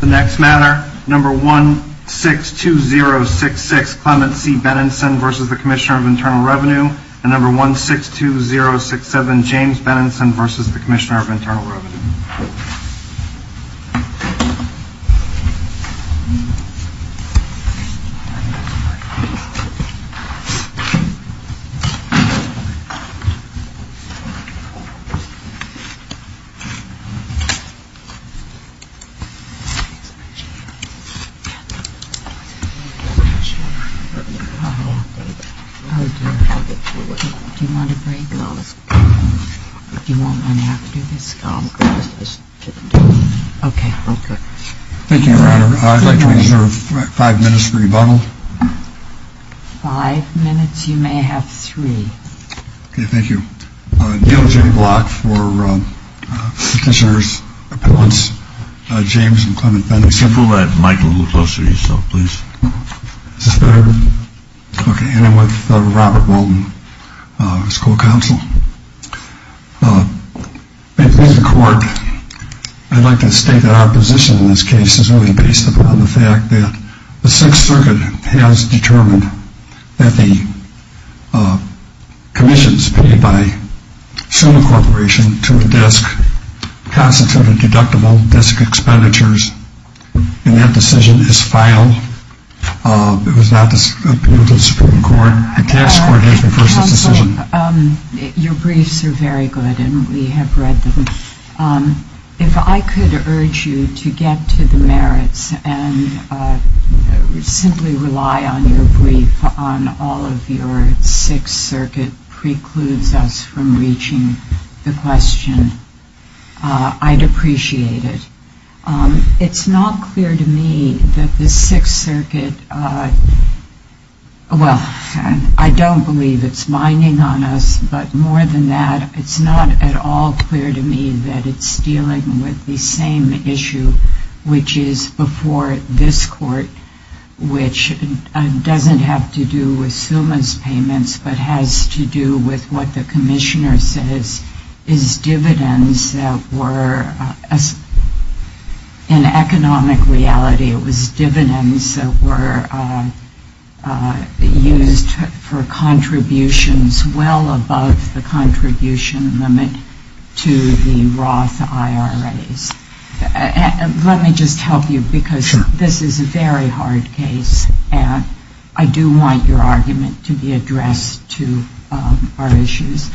The next matter, number 162066 Clement C. Benenson v. Commissioner of Internal Revenue and number 162067 James Benenson v. Commissioner of Internal Revenue. Thank you, Your Honor. I'd like to reserve five minutes for rebuttal. Five minutes? You may have three. Okay, thank you. Neal J. Block for Petitioner's Appealants James and Clement Benenson. Can you move that mic a little closer to yourself, please? Is this better? Okay, and I'm with Robert Walden, School Counsel. May it please the Court, I'd like to state that our position in this case is really based upon the fact that the Sixth Circuit has determined that the commissions paid by Suma Corporation to a disc constitute a deductible, disc expenditures, and that decision is final. It was not appealed to the Supreme Court. The case court has referred to this decision. Counsel, your briefs are very good, and we have read them. If I could urge you to get to the merits and simply rely on your brief on all of your Sixth Circuit precludes us from reaching the question, I'd appreciate it. It's not clear to me that the Sixth Circuit, well, I don't believe it's binding on us, but more than that, it's not at all clear to me that it's dealing with the same issue which is before this court, which doesn't have to do with Suma's payments but has to do with what the Commissioner says is dividends that were, in economic reality, it was dividends that were used for contributions well above the contribution limit to the Roth IRAs. Let me just help you because this is a very hard case, and I do want your argument to be addressed to our issues.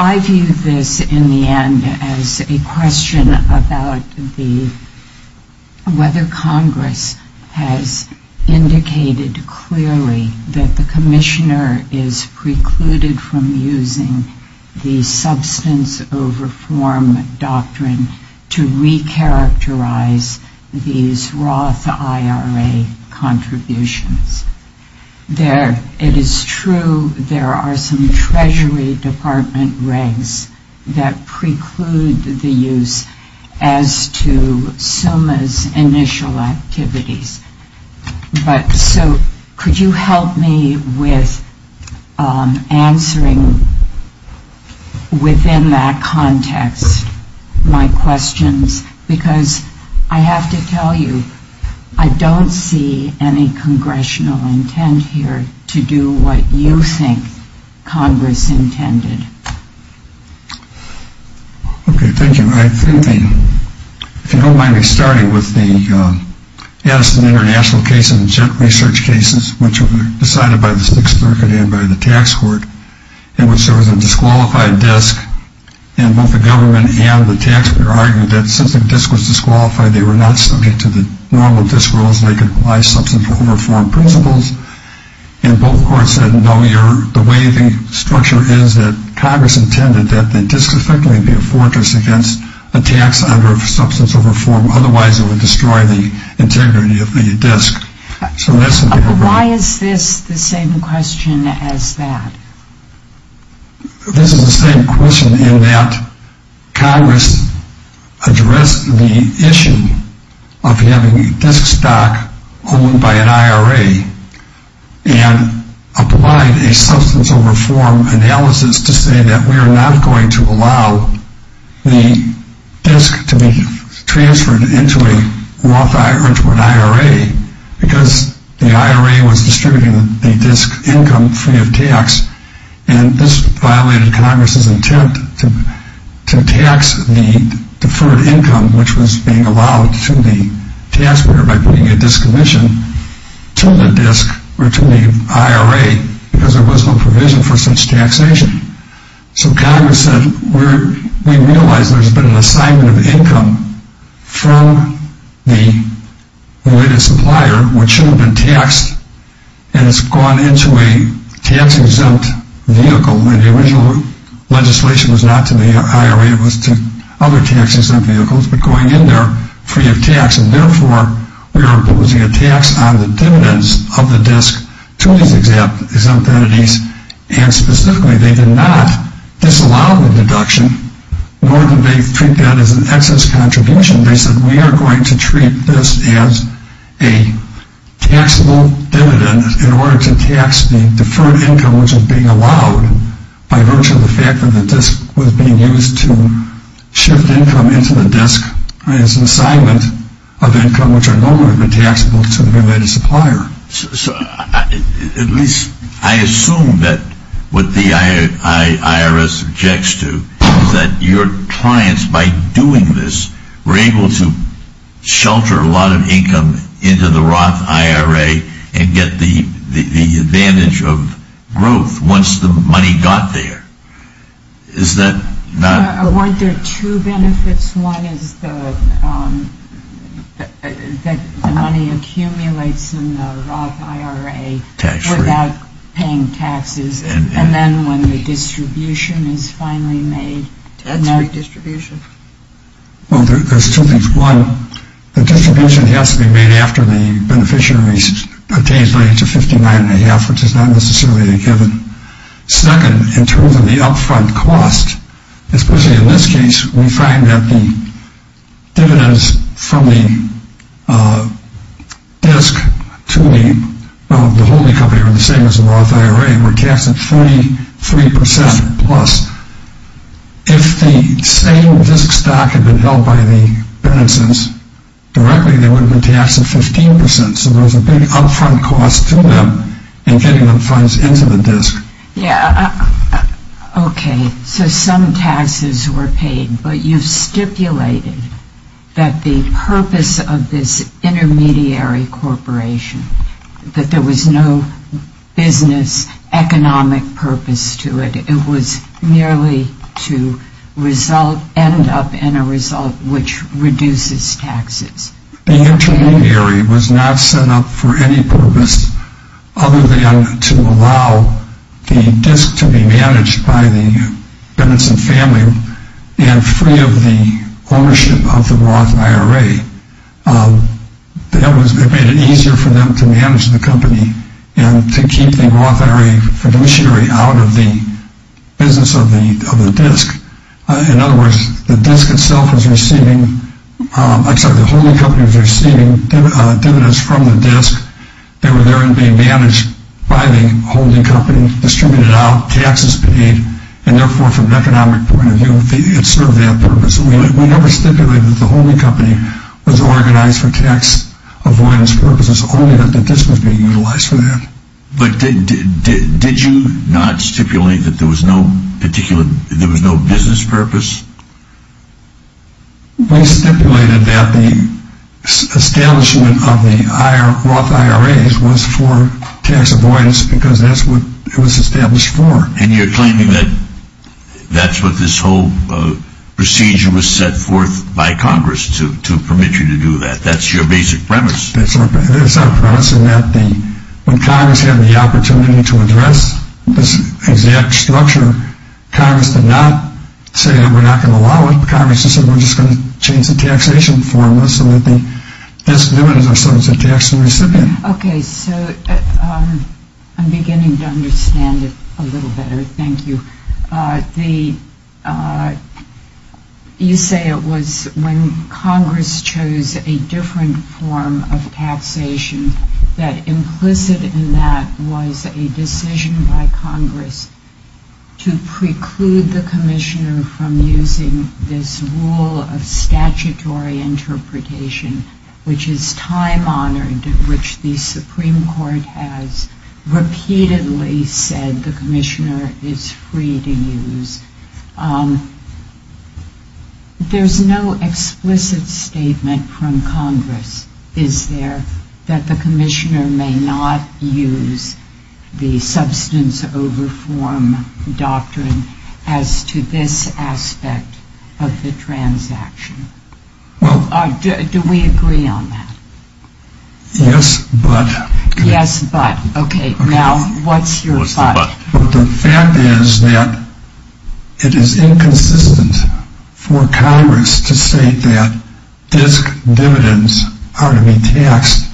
I view this, in the end, as a question about whether Congress has indicated clearly that the Commissioner is precluded from using the substance over form doctrine to recharacterize these Roth IRA contributions. It is true there are some Treasury Department regs that preclude the use as to Suma's initial activities, but so could you help me with answering, within that context, my questions because I have to tell you, I don't see any Congressional intent here to do what you think Congress intended. Okay, thank you. If you don't mind me starting with the Addison International case and the Jet Research cases, which were decided by the 6th Circuit and by the Tax Court, in which there was a disqualified disc, and both the government and the taxpayer argued that since the disc was disqualified, they were not subject to the normal disc rules that apply substance over form principles, and both courts said no, the way the structure is that Congress intended that the disc effectively be a fortress against attacks under substance over form, otherwise it would destroy the integrity of the disc. Why is this the same question as that? This is the same question in that Congress addressed the issue of having a disc stock owned by an IRA and applied a substance over form analysis to say that we are not going to allow the disc to be transferred into an IRA because the IRA was distributing the disc income free of tax, and this violated Congress's intent to tax the deferred income which was being allowed to the taxpayer by putting a disc omission to the disc or to the IRA because there was no provision for such taxation. So Congress said, we realize there's been an assignment of income from the related supplier, which should have been taxed, and it's gone into a tax-exempt vehicle, and the original legislation was not to the IRA, it was to other tax-exempt vehicles, but going in there free of tax, and therefore we are imposing a tax on the dividends of the disc to these exempt entities, and specifically they did not disallow the deduction, nor did they treat that as an excess contribution. They said we are going to treat this as a taxable dividend in order to tax the deferred income which was being allowed by virtue of the fact that the disc was being used to shift income into the disc as an assignment of income which are normally taxable to the related supplier. So at least I assume that what the IRS objects to is that your clients, by doing this, were able to shelter a lot of income into the Roth IRA and get the advantage of growth once the money got there. Is that not... Weren't there two benefits? One is that the money accumulates in the Roth IRA without paying taxes, and then when the distribution is finally made... That's redistribution. Well, there's two things. One, the distribution has to be made after the beneficiary obtains money to 59 and a half, which is not necessarily a given. Second, in terms of the upfront cost, especially in this case, we find that the dividends from the disc to the holding company are the same as the Roth IRA. We're taxed at 43% plus. If the same disc stock had been held by the beneficiary directly, they would have been taxed at 15%. So there's a big upfront cost to them in getting the funds into the disc. Yeah. Okay. So some taxes were paid, but you stipulated that the purpose of this intermediary corporation, that there was no business economic purpose to it. It was merely to end up in a result which reduces taxes. The intermediary was not set up for any purpose other than to allow the disc to be managed by the Benson family and free of the ownership of the Roth IRA. That made it easier for them to manage the company and to keep the Roth IRA fiduciary out of the business of the disc. In other words, the holding company was receiving dividends from the disc. They were there and being managed by the holding company, distributed out, taxes paid, and therefore, from an economic point of view, it served that purpose. We never stipulated that the holding company was organized for tax avoidance purposes, only that the disc was being utilized for that. But did you not stipulate that there was no business purpose? We stipulated that the establishment of the Roth IRAs was for tax avoidance because that's what it was established for. And you're claiming that that's what this whole procedure was set forth by Congress to permit you to do that. That's your basic premise. It's our premise in that when Congress had the opportunity to address this exact structure, Congress did not say that we're not going to allow it. Congress just said we're just going to change the taxation formula so that the disc limited ourselves in taxing the recipient. Okay, so I'm beginning to understand it a little better. Thank you. You say it was when Congress chose a different form of taxation that implicit in that was a decision by Congress to preclude the Commissioner from using this rule of statutory interpretation, which is time-honored, which the Supreme Court has repeatedly said the Commissioner is free to use. There's no explicit statement from Congress, is there, that the Commissioner may not use the substance over form doctrine as to this aspect of the transaction? Do we agree on that? Yes, but. Yes, but. Okay, now what's your but? The fact is that it is inconsistent for Congress to state that disc dividends are to be taxed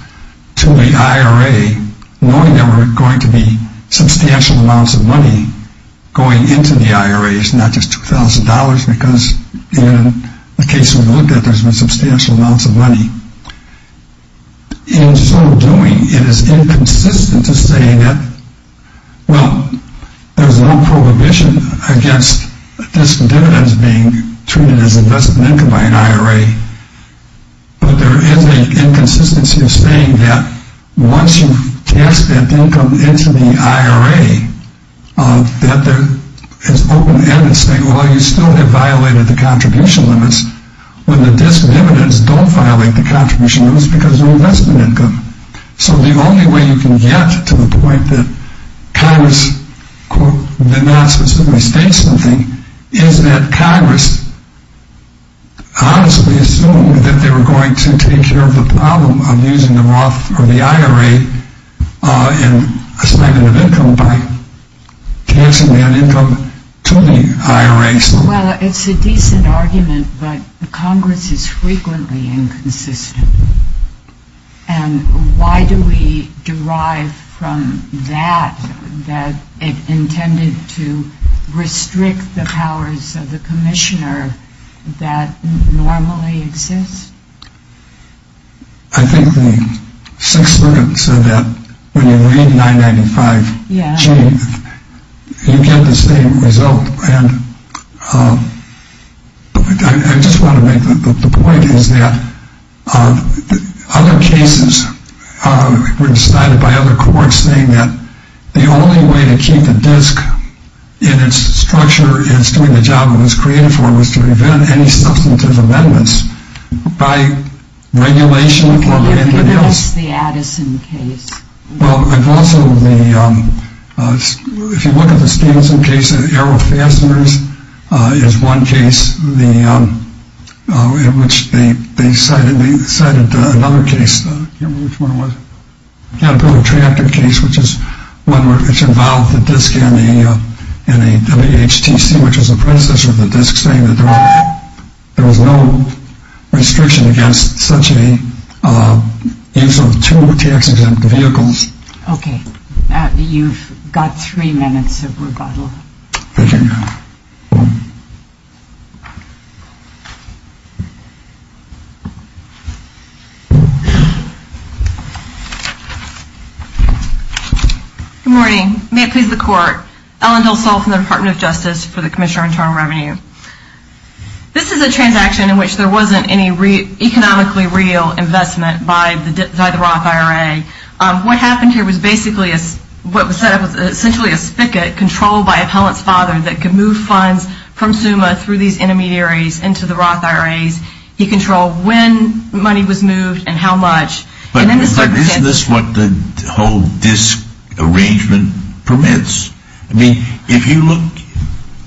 to the IRA knowing there were going to be substantial amounts of money going into the IRAs, not just $2,000 because in the case we looked at, there's been substantial amounts of money. In so doing, it is inconsistent to say that, well, there's no prohibition against disc dividends being treated as investment income by an IRA, but there is an inconsistency of saying that once you cast that income into the IRA, that there is open evidence saying, well, you still have violated the contribution limits when the disc dividends don't violate the contribution limits because they're investment income. So the only way you can get to the point that Congress, quote, did not specifically state something, is that Congress honestly assumed that they were going to take care of the problem of using the Roth or the IRA and spending of income by casting that income to the IRAs. Well, it's a decent argument, but Congress is frequently inconsistent. And why do we derive from that that it intended to restrict the powers of the commissioner that normally exist? I think the Sixth Amendment said that when you read 995G, you get the same result. And I just want to make the point is that other cases were decided by other courts saying that the only way to keep a disc in its structure and its doing the job it was created for was to prevent any substantive amendments. By regulation or anything else. Can you give us the Addison case? Well, if you look at the Addison case, Arrow Fasteners is one case in which they cited another case. I can't remember which one it was. The Caterpillar Tractor case, which is one which involved the disc in a WHTC, which was the predecessor of the disc saying that there was no restriction against such a use of two TX exempt vehicles. Okay. Matt, you've got three minutes of rebuttal. Thank you, ma'am. Good morning. May it please the Court. Ellen Hillsall from the Department of Justice for the Commissioner of Internal Revenue. This is a transaction in which there wasn't any economically real investment by the Roth IRA. What happened here was basically what was set up was essentially a spigot controlled by appellant's father that could move funds from SUMA through these intermediaries into the Roth IRAs. He controlled when money was moved and how much. But isn't this what the whole disc arrangement permits? I mean, if you look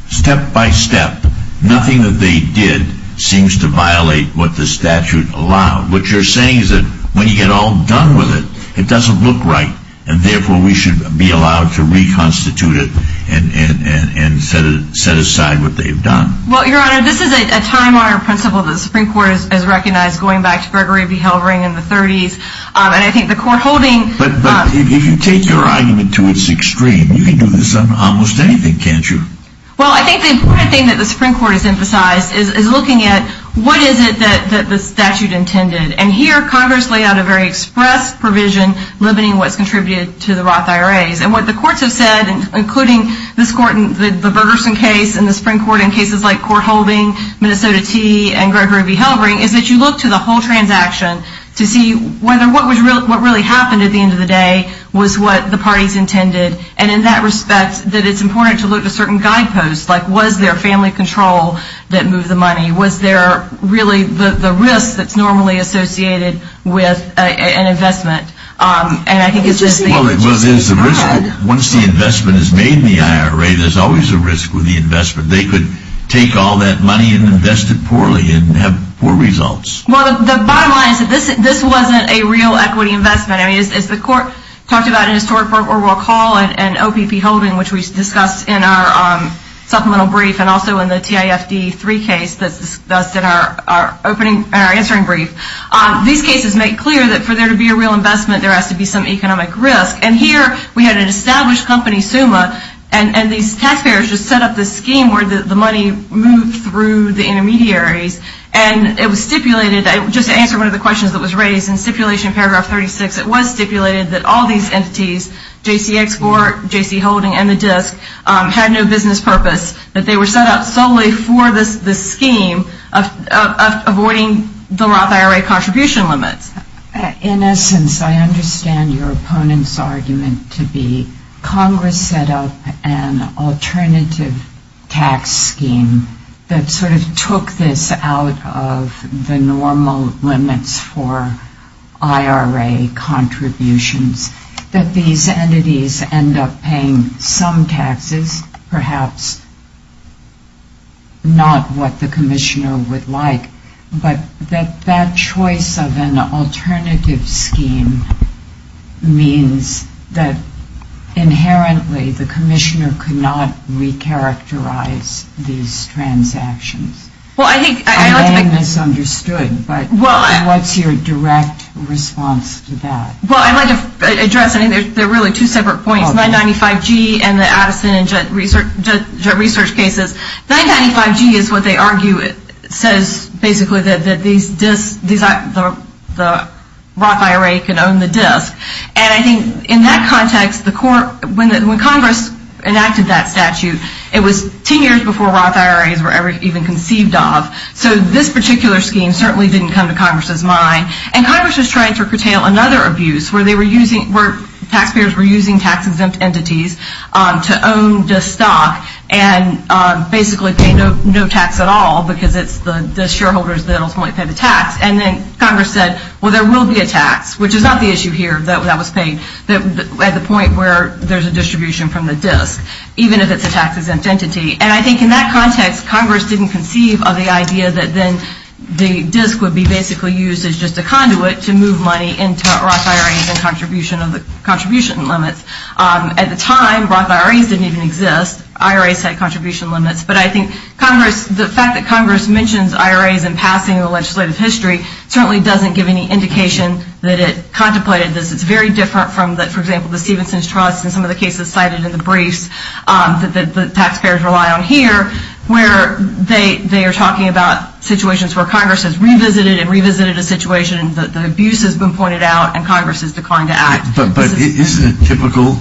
step by step, nothing that they did seems to violate what the statute allowed. What you're saying is that when you get all done with it, it doesn't look right, and therefore we should be allowed to reconstitute it and set aside what they've done. Well, Your Honor, this is a time-honored principle that the Supreme Court has recognized, going back to Gregory B. Hellring in the 30s. But if you take your argument to its extreme, you can do this on almost anything, can't you? Well, I think the important thing that the Supreme Court has emphasized is looking at what is it that the statute intended. And here, Congress laid out a very express provision limiting what's contributed to the Roth IRAs. And what the courts have said, including the Bergerson case and the Supreme Court in cases like court holding, Minnesota Tee, and Gregory B. Hellring, is that you look to the whole transaction to see whether what really happened at the end of the day was what the parties intended. And in that respect, that it's important to look at certain guideposts, like was there family control that moved the money? Was there really the risk that's normally associated with an investment? Well, once the investment is made in the IRA, there's always a risk with the investment. They could take all that money and invest it poorly and have poor results. Well, the bottom line is that this wasn't a real equity investment. I mean, as the court talked about in historic work where we'll call it an OPP holding, which we discussed in our supplemental brief and also in the TIFD3 case that's in our answering brief, these cases make clear that for there to be a real investment, there has to be some economic risk. And here we had an established company, SUMA, and these taxpayers just set up this scheme where the money moved through the intermediaries. And it was stipulated, just to answer one of the questions that was raised in stipulation paragraph 36, it was stipulated that all these entities, J.C. Export, J.C. Holding, and the DISC, had no business purpose, that they were set up solely for this scheme of avoiding the Roth IRA contribution limits. In essence, I understand your opponent's argument to be Congress set up an alternative tax scheme that sort of took this out of the normal limits for IRA contributions, that these entities end up paying some taxes, perhaps not what the commissioner would like, but that that choice of an alternative scheme means that inherently the commissioner could not recharacterize these transactions. I may have misunderstood, but what's your direct response to that? Well, I'd like to address, I mean, they're really two separate points, 995G and the Addison and Judd research cases. 995G is what they argue, it says basically that these DISCs, the Roth IRA can own the DISC. And I think in that context, when Congress enacted that statute, it was 10 years before Roth IRAs were ever even conceived of. So this particular scheme certainly didn't come to Congress's mind. And Congress was trying to curtail another abuse where they were using, where taxpayers were using tax-exempt entities to own DISC stock and basically pay no tax at all because it's the shareholders that ultimately pay the tax. And then Congress said, well, there will be a tax, which is not the issue here that was paid at the point where there's a distribution from the DISC, even if it's a tax-exempt entity. And I think in that context, Congress didn't conceive of the idea that then the DISC would be basically used as just a conduit to move money into Roth IRAs and contribution limits. At the time, Roth IRAs didn't even exist. IRAs had contribution limits. But I think the fact that Congress mentions IRAs in passing in the legislative history certainly doesn't give any indication that it contemplated this. It's very different from, for example, the Stevenson's Trust and some of the cases cited in the briefs that the taxpayers rely on here, where they are talking about situations where Congress has revisited and revisited a situation and the abuse has been pointed out and Congress has declined to act. But isn't it typical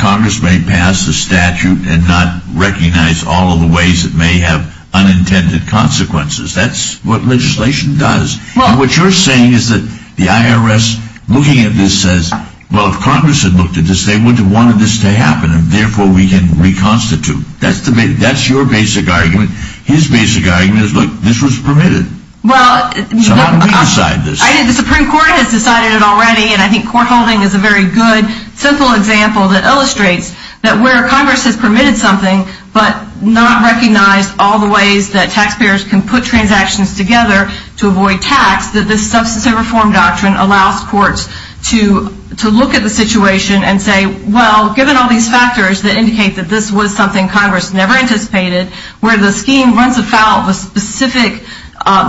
Congress may pass a statute and not recognize all of the ways it may have unintended consequences? That's what legislation does. And what you're saying is that the IRS, looking at this, says, well, if Congress had looked at this, they would have wanted this to happen and therefore we can reconstitute. That's your basic argument. His basic argument is, look, this was permitted. So how do we decide this? The Supreme Court has decided it already, and I think court holding is a very good, simple example that illustrates that where Congress has permitted something but not recognized all the ways that taxpayers can put transactions together to avoid tax, that this substance of reform doctrine allows courts to look at the situation and say, well, given all these factors that indicate that this was something Congress never anticipated, where the scheme runs afoul of a specific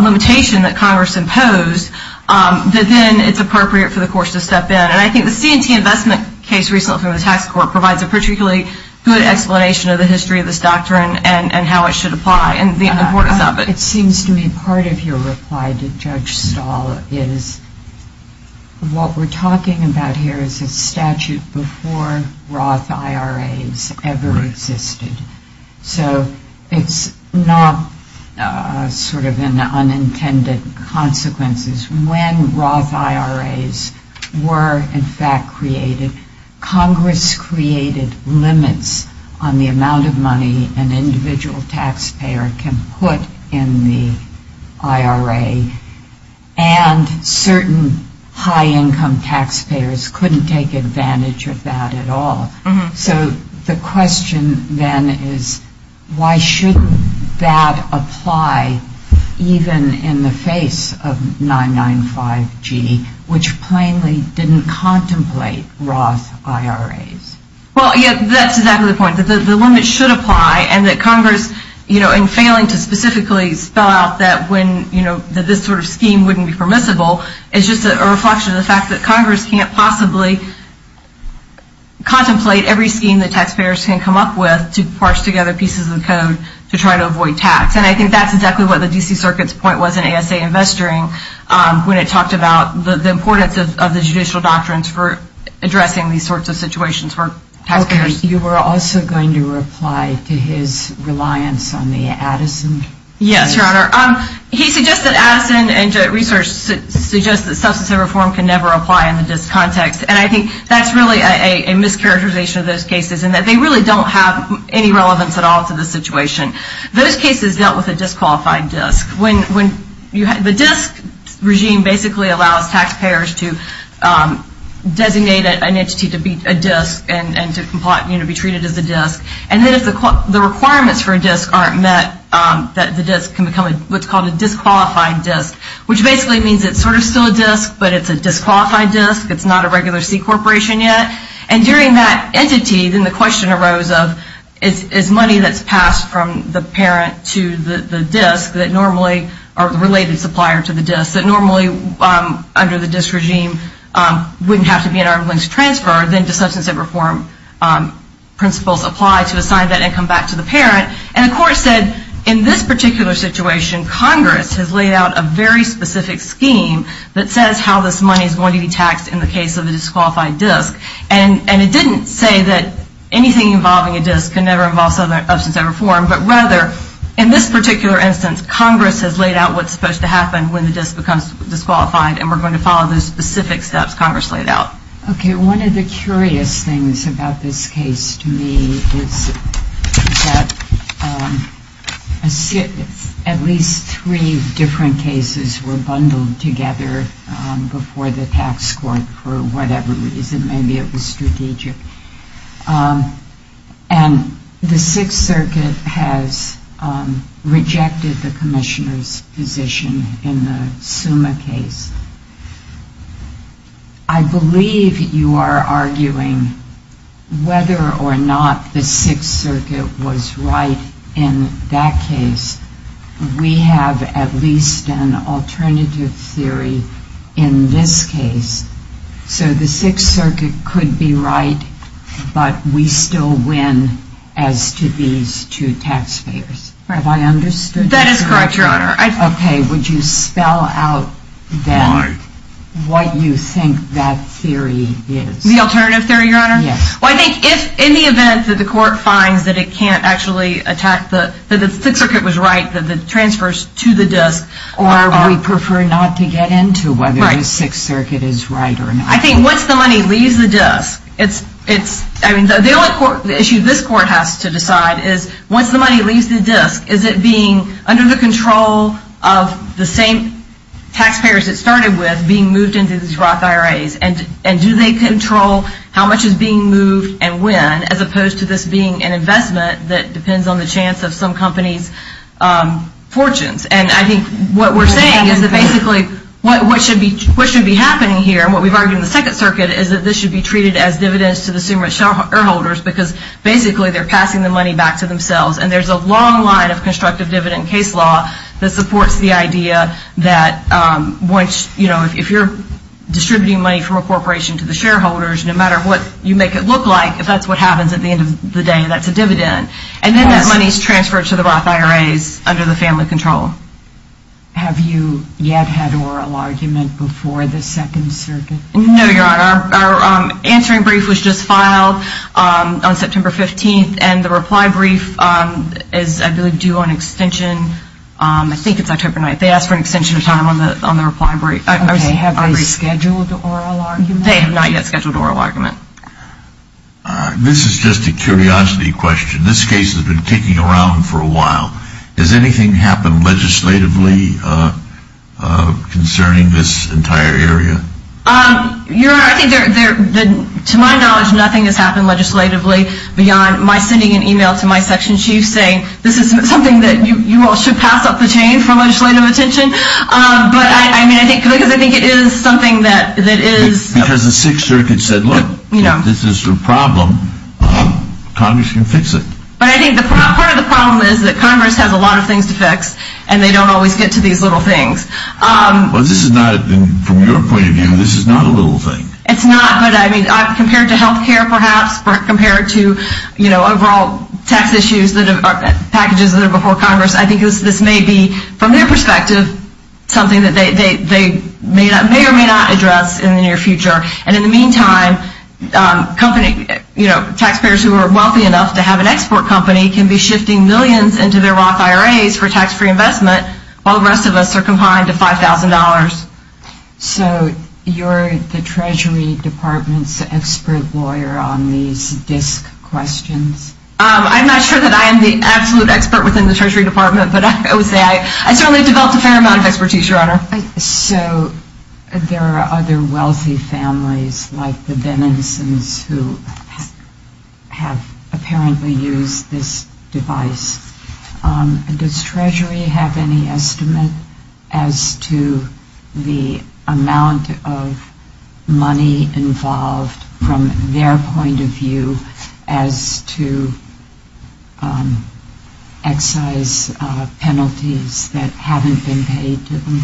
limitation that Congress imposed, that then it's appropriate for the courts to step in. And I think the C&T investment case recently from the tax court provides a particularly good explanation of the history of this doctrine and how it should apply and the importance of it. It seems to me part of your reply to Judge Stahl is what we're talking about here is a statute before Roth IRAs ever existed. So it's not sort of an unintended consequence. When Roth IRAs were in fact created, Congress created limits on the amount of money an individual taxpayer can put in the IRA and certain high-income taxpayers couldn't take advantage of that at all. So the question then is why shouldn't that apply even in the face of 995G, which plainly didn't contemplate Roth IRAs? Well, yes, that's exactly the point, that the limits should apply and failing to specifically spell out that this sort of scheme wouldn't be permissible is just a reflection of the fact that Congress can't possibly contemplate every scheme that taxpayers can come up with to parse together pieces of the code to try to avoid tax. And I think that's exactly what the D.C. Circuit's point was in ASA Investoring when it talked about the importance of the judicial doctrines for addressing these sorts of situations for taxpayers. You were also going to reply to his reliance on the Addison case? Yes, Your Honor. He suggested Addison and research suggests that substance of reform can never apply in the D.I.S.C. context, and I think that's really a mischaracterization of those cases in that they really don't have any relevance at all to the situation. Those cases dealt with a disqualified D.I.S.C. The D.I.S.C. regime basically allows taxpayers to designate an entity to be a D.I.S.C. and to be treated as a D.I.S.C. And then if the requirements for a D.I.S.C. aren't met, the D.I.S.C. can become what's called a disqualified D.I.S.C., which basically means it's sort of still a D.I.S.C., but it's a disqualified D.I.S.C., it's not a regular C. Corporation yet. And during that entity, then the question arose of, is money that's passed from the parent to the D.I.S.C. that normally, or the related supplier to the D.I.S.C. that normally under the D.I.S.C. regime wouldn't have to be an arm's length transfer, then the substance of reform principles apply to assign that income back to the parent. And the court said, in this particular situation, Congress has laid out a very specific scheme that says how this money is going to be taxed in the case of a disqualified D.I.S.C. And it didn't say that anything involving a D.I.S.C. can never involve substance of reform, but rather, in this particular instance, Congress has laid out what's supposed to happen when the D.I.S.C. becomes disqualified, and we're going to follow the specific steps Congress laid out. Okay, one of the curious things about this case to me is that at least three different cases were bundled together before the tax court for whatever reason, maybe it was strategic. And the Sixth Circuit has rejected the Commissioner's position in the Summa case. I believe you are arguing whether or not the Sixth Circuit was right in that case. We have at least an alternative theory in this case. So the Sixth Circuit could be right, but we still win as to these two taxpayers. Have I understood that correctly? That is correct, Your Honor. Okay, would you spell out then what you think that theory is? The alternative theory, Your Honor? Yes. Well, I think if, in the event that the court finds that it can't actually attack the, or we prefer not to get into whether the Sixth Circuit is right or not. I think once the money leaves the disk, it's, I mean, the only issue this court has to decide is once the money leaves the disk, is it being under the control of the same taxpayers it started with being moved into these Roth IRAs, and do they control how much is being moved and when, as opposed to this being an investment that depends on the chance of some companies' fortunes. And I think what we're saying is that basically what should be happening here, and what we've argued in the Second Circuit, is that this should be treated as dividends to the consumer shareholders because basically they're passing the money back to themselves. And there's a long line of constructive dividend case law that supports the idea that once, you know, if you're distributing money from a corporation to the shareholders, no matter what you make it look like, if that's what happens at the end of the day, that's a dividend. And then that money is transferred to the Roth IRAs under the family control. Have you yet had oral argument before the Second Circuit? No, Your Honor. Our answering brief was just filed on September 15th, and the reply brief is, I believe, due on extension, I think it's October 9th. They asked for an extension of time on the reply brief. Okay, have they scheduled oral argument? They have not yet scheduled oral argument. This is just a curiosity question. This case has been kicking around for a while. Has anything happened legislatively concerning this entire area? Your Honor, to my knowledge, nothing has happened legislatively beyond my sending an email to my section chief saying, this is something that you all should pass up the chain for legislative attention. But I mean, because I think it is something that is... Because the Sixth Circuit said, look, if this is your problem, Congress can fix it. But I think part of the problem is that Congress has a lot of things to fix, and they don't always get to these little things. But this is not, from your point of view, this is not a little thing. It's not, but I mean, compared to health care perhaps, compared to overall tax issues, packages that are before Congress, I think this may be, from their perspective, something that they may or may not address in the near future. And in the meantime, taxpayers who are wealthy enough to have an export company can be shifting millions into their Roth IRAs for tax-free investment, while the rest of us are confined to $5,000. So you're the Treasury Department's expert lawyer on these DISC questions? I'm not sure that I am the absolute expert within the Treasury Department, but I would say I certainly developed a fair amount of expertise, Your Honor. So there are other wealthy families, like the Bennisons, who have apparently used this device. Does Treasury have any estimate as to the amount of money involved, from their point of view, as to excise penalties that haven't been paid to them?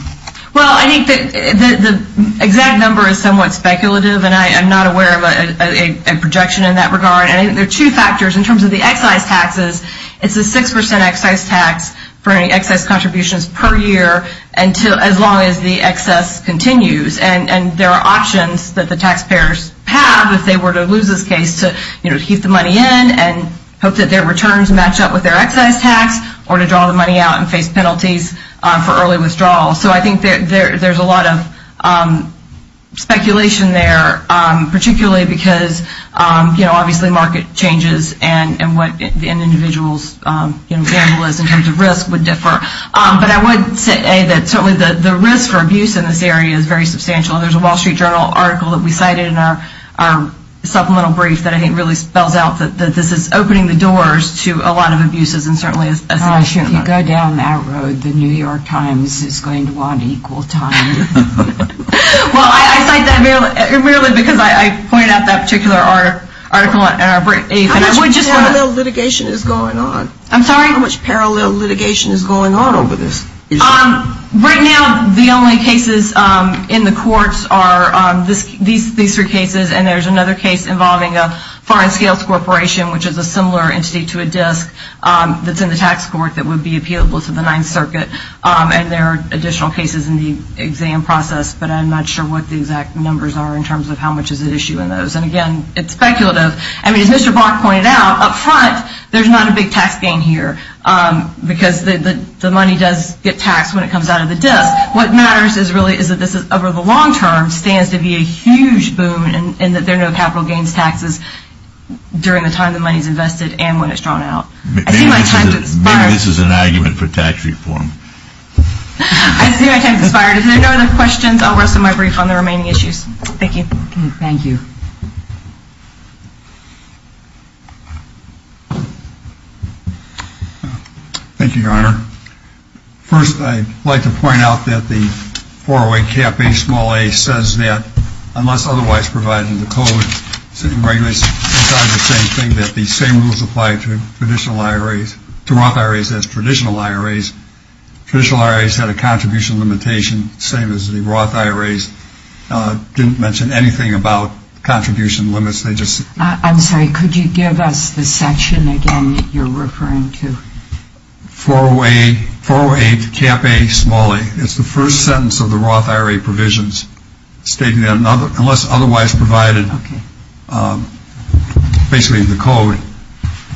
Well, I think that the exact number is somewhat speculative, and I'm not aware of a projection in that regard. And I think there are two factors in terms of the excise taxes. It's a 6% excise tax for any excess contributions per year as long as the excess continues. And there are options that the taxpayers have, if they were to lose this case, to keep the money in and hope that their returns match up with their excise tax, or to draw the money out and face penalties for early withdrawal. So I think there's a lot of speculation there, particularly because, you know, obviously market changes and what an individual's gamble is in terms of risk would differ. But I would say that certainly the risk for abuse in this area is very substantial. And there's a Wall Street Journal article that we cited in our supplemental brief that I think really spells out that this is opening the doors to a lot of abuses and certainly a significant amount. Gosh, if you go down that road, the New York Times is going to want equal time. Well, I cite that merely because I pointed out that particular article in our brief. How much parallel litigation is going on? I'm sorry? How much parallel litigation is going on over this issue? Right now, the only cases in the courts are these three cases, and there's another case involving a Foreign Scales Corporation, which is a similar entity to a DISC that's in the tax court that would be appealable to the Ninth Circuit. And there are additional cases in the exam process, but I'm not sure what the exact numbers are in terms of how much is at issue in those. And, again, it's speculative. I mean, as Mr. Block pointed out, up front, there's not a big tax gain here because the money does get taxed when it comes out of the DISC. What matters is really is that this over the long term stands to be a huge boon in that there are no capital gains taxes during the time the money is invested and when it's drawn out. I see my time has expired. Maybe this is an argument for tax reform. I see my time has expired. If there are no other questions, I'll rest my brief on the remaining issues. Thank you. Thank you. Thank you, Your Honor. First, I'd like to point out that the 408 cap a small a says that unless otherwise provided in the code, sitting regulations require the same thing, that the same rules apply to traditional IRAs, to Roth IRAs as traditional IRAs. Traditional IRAs had a contribution limitation, same as the Roth IRAs. I didn't mention anything about contribution limits. I'm sorry. Could you give us the section again that you're referring to? 408 cap a small a. It's the first sentence of the Roth IRA provisions stating that unless otherwise provided basically in the code,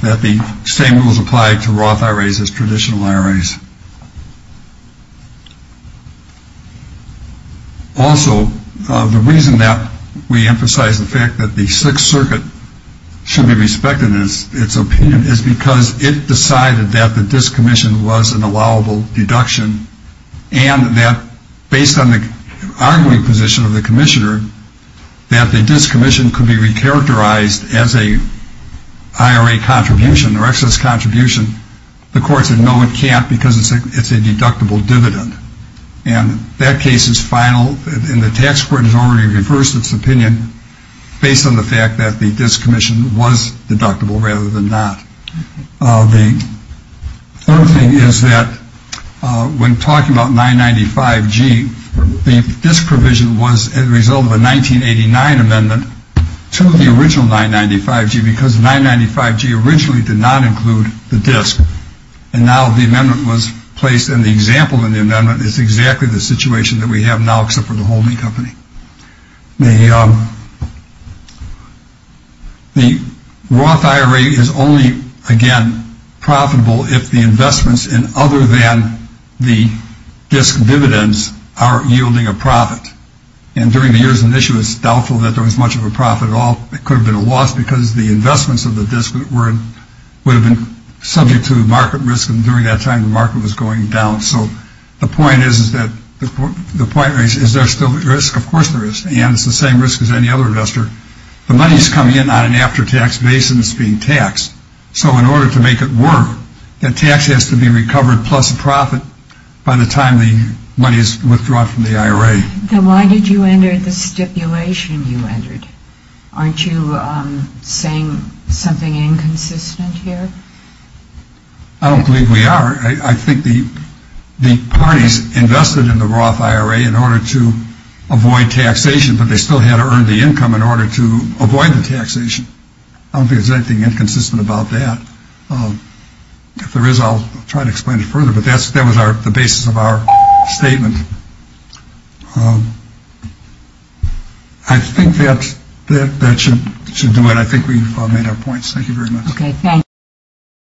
that the same rules apply to Roth IRAs as traditional IRAs. Also, the reason that we emphasize the fact that the Sixth Circuit should be respected in its opinion is because it decided that the discommission was an allowable deduction and that based on the arguing position of the commissioner, that the discommission could be recharacterized as an IRA contribution or excess contribution. The court said no, it can't because it's a deductible dividend. And that case is final and the tax court has already reversed its opinion based on the fact that the discommission was deductible rather than not. The third thing is that when talking about 995G, the disprovision was a result of a 1989 amendment to the original 995G because 995G originally did not include the DISC. And now the amendment was placed and the example in the amendment is exactly the situation that we have now except for the holding company. The Roth IRA is only, again, profitable if the investments in other than the DISC dividends are yielding a profit. And during the years when this was doubtful that there was much of a profit at all, it could have been a loss because the investments of the DISC would have been subject to the market risk and during that time the market was going down. So the point is, is there still risk? Of course there is and it's the same risk as any other investor. The money is coming in on an after-tax basis and it's being taxed. So in order to make it work, the tax has to be recovered plus a profit by the time the money is withdrawn from the IRA. Then why did you enter the stipulation you entered? Aren't you saying something inconsistent here? I don't believe we are. I think the parties invested in the Roth IRA in order to avoid taxation, but they still had to earn the income in order to avoid the taxation. I don't think there's anything inconsistent about that. If there is, I'll try to explain it further. But that was the basis of our statement. I think that should do it. I think we've made our points. Thank you very much. Okay.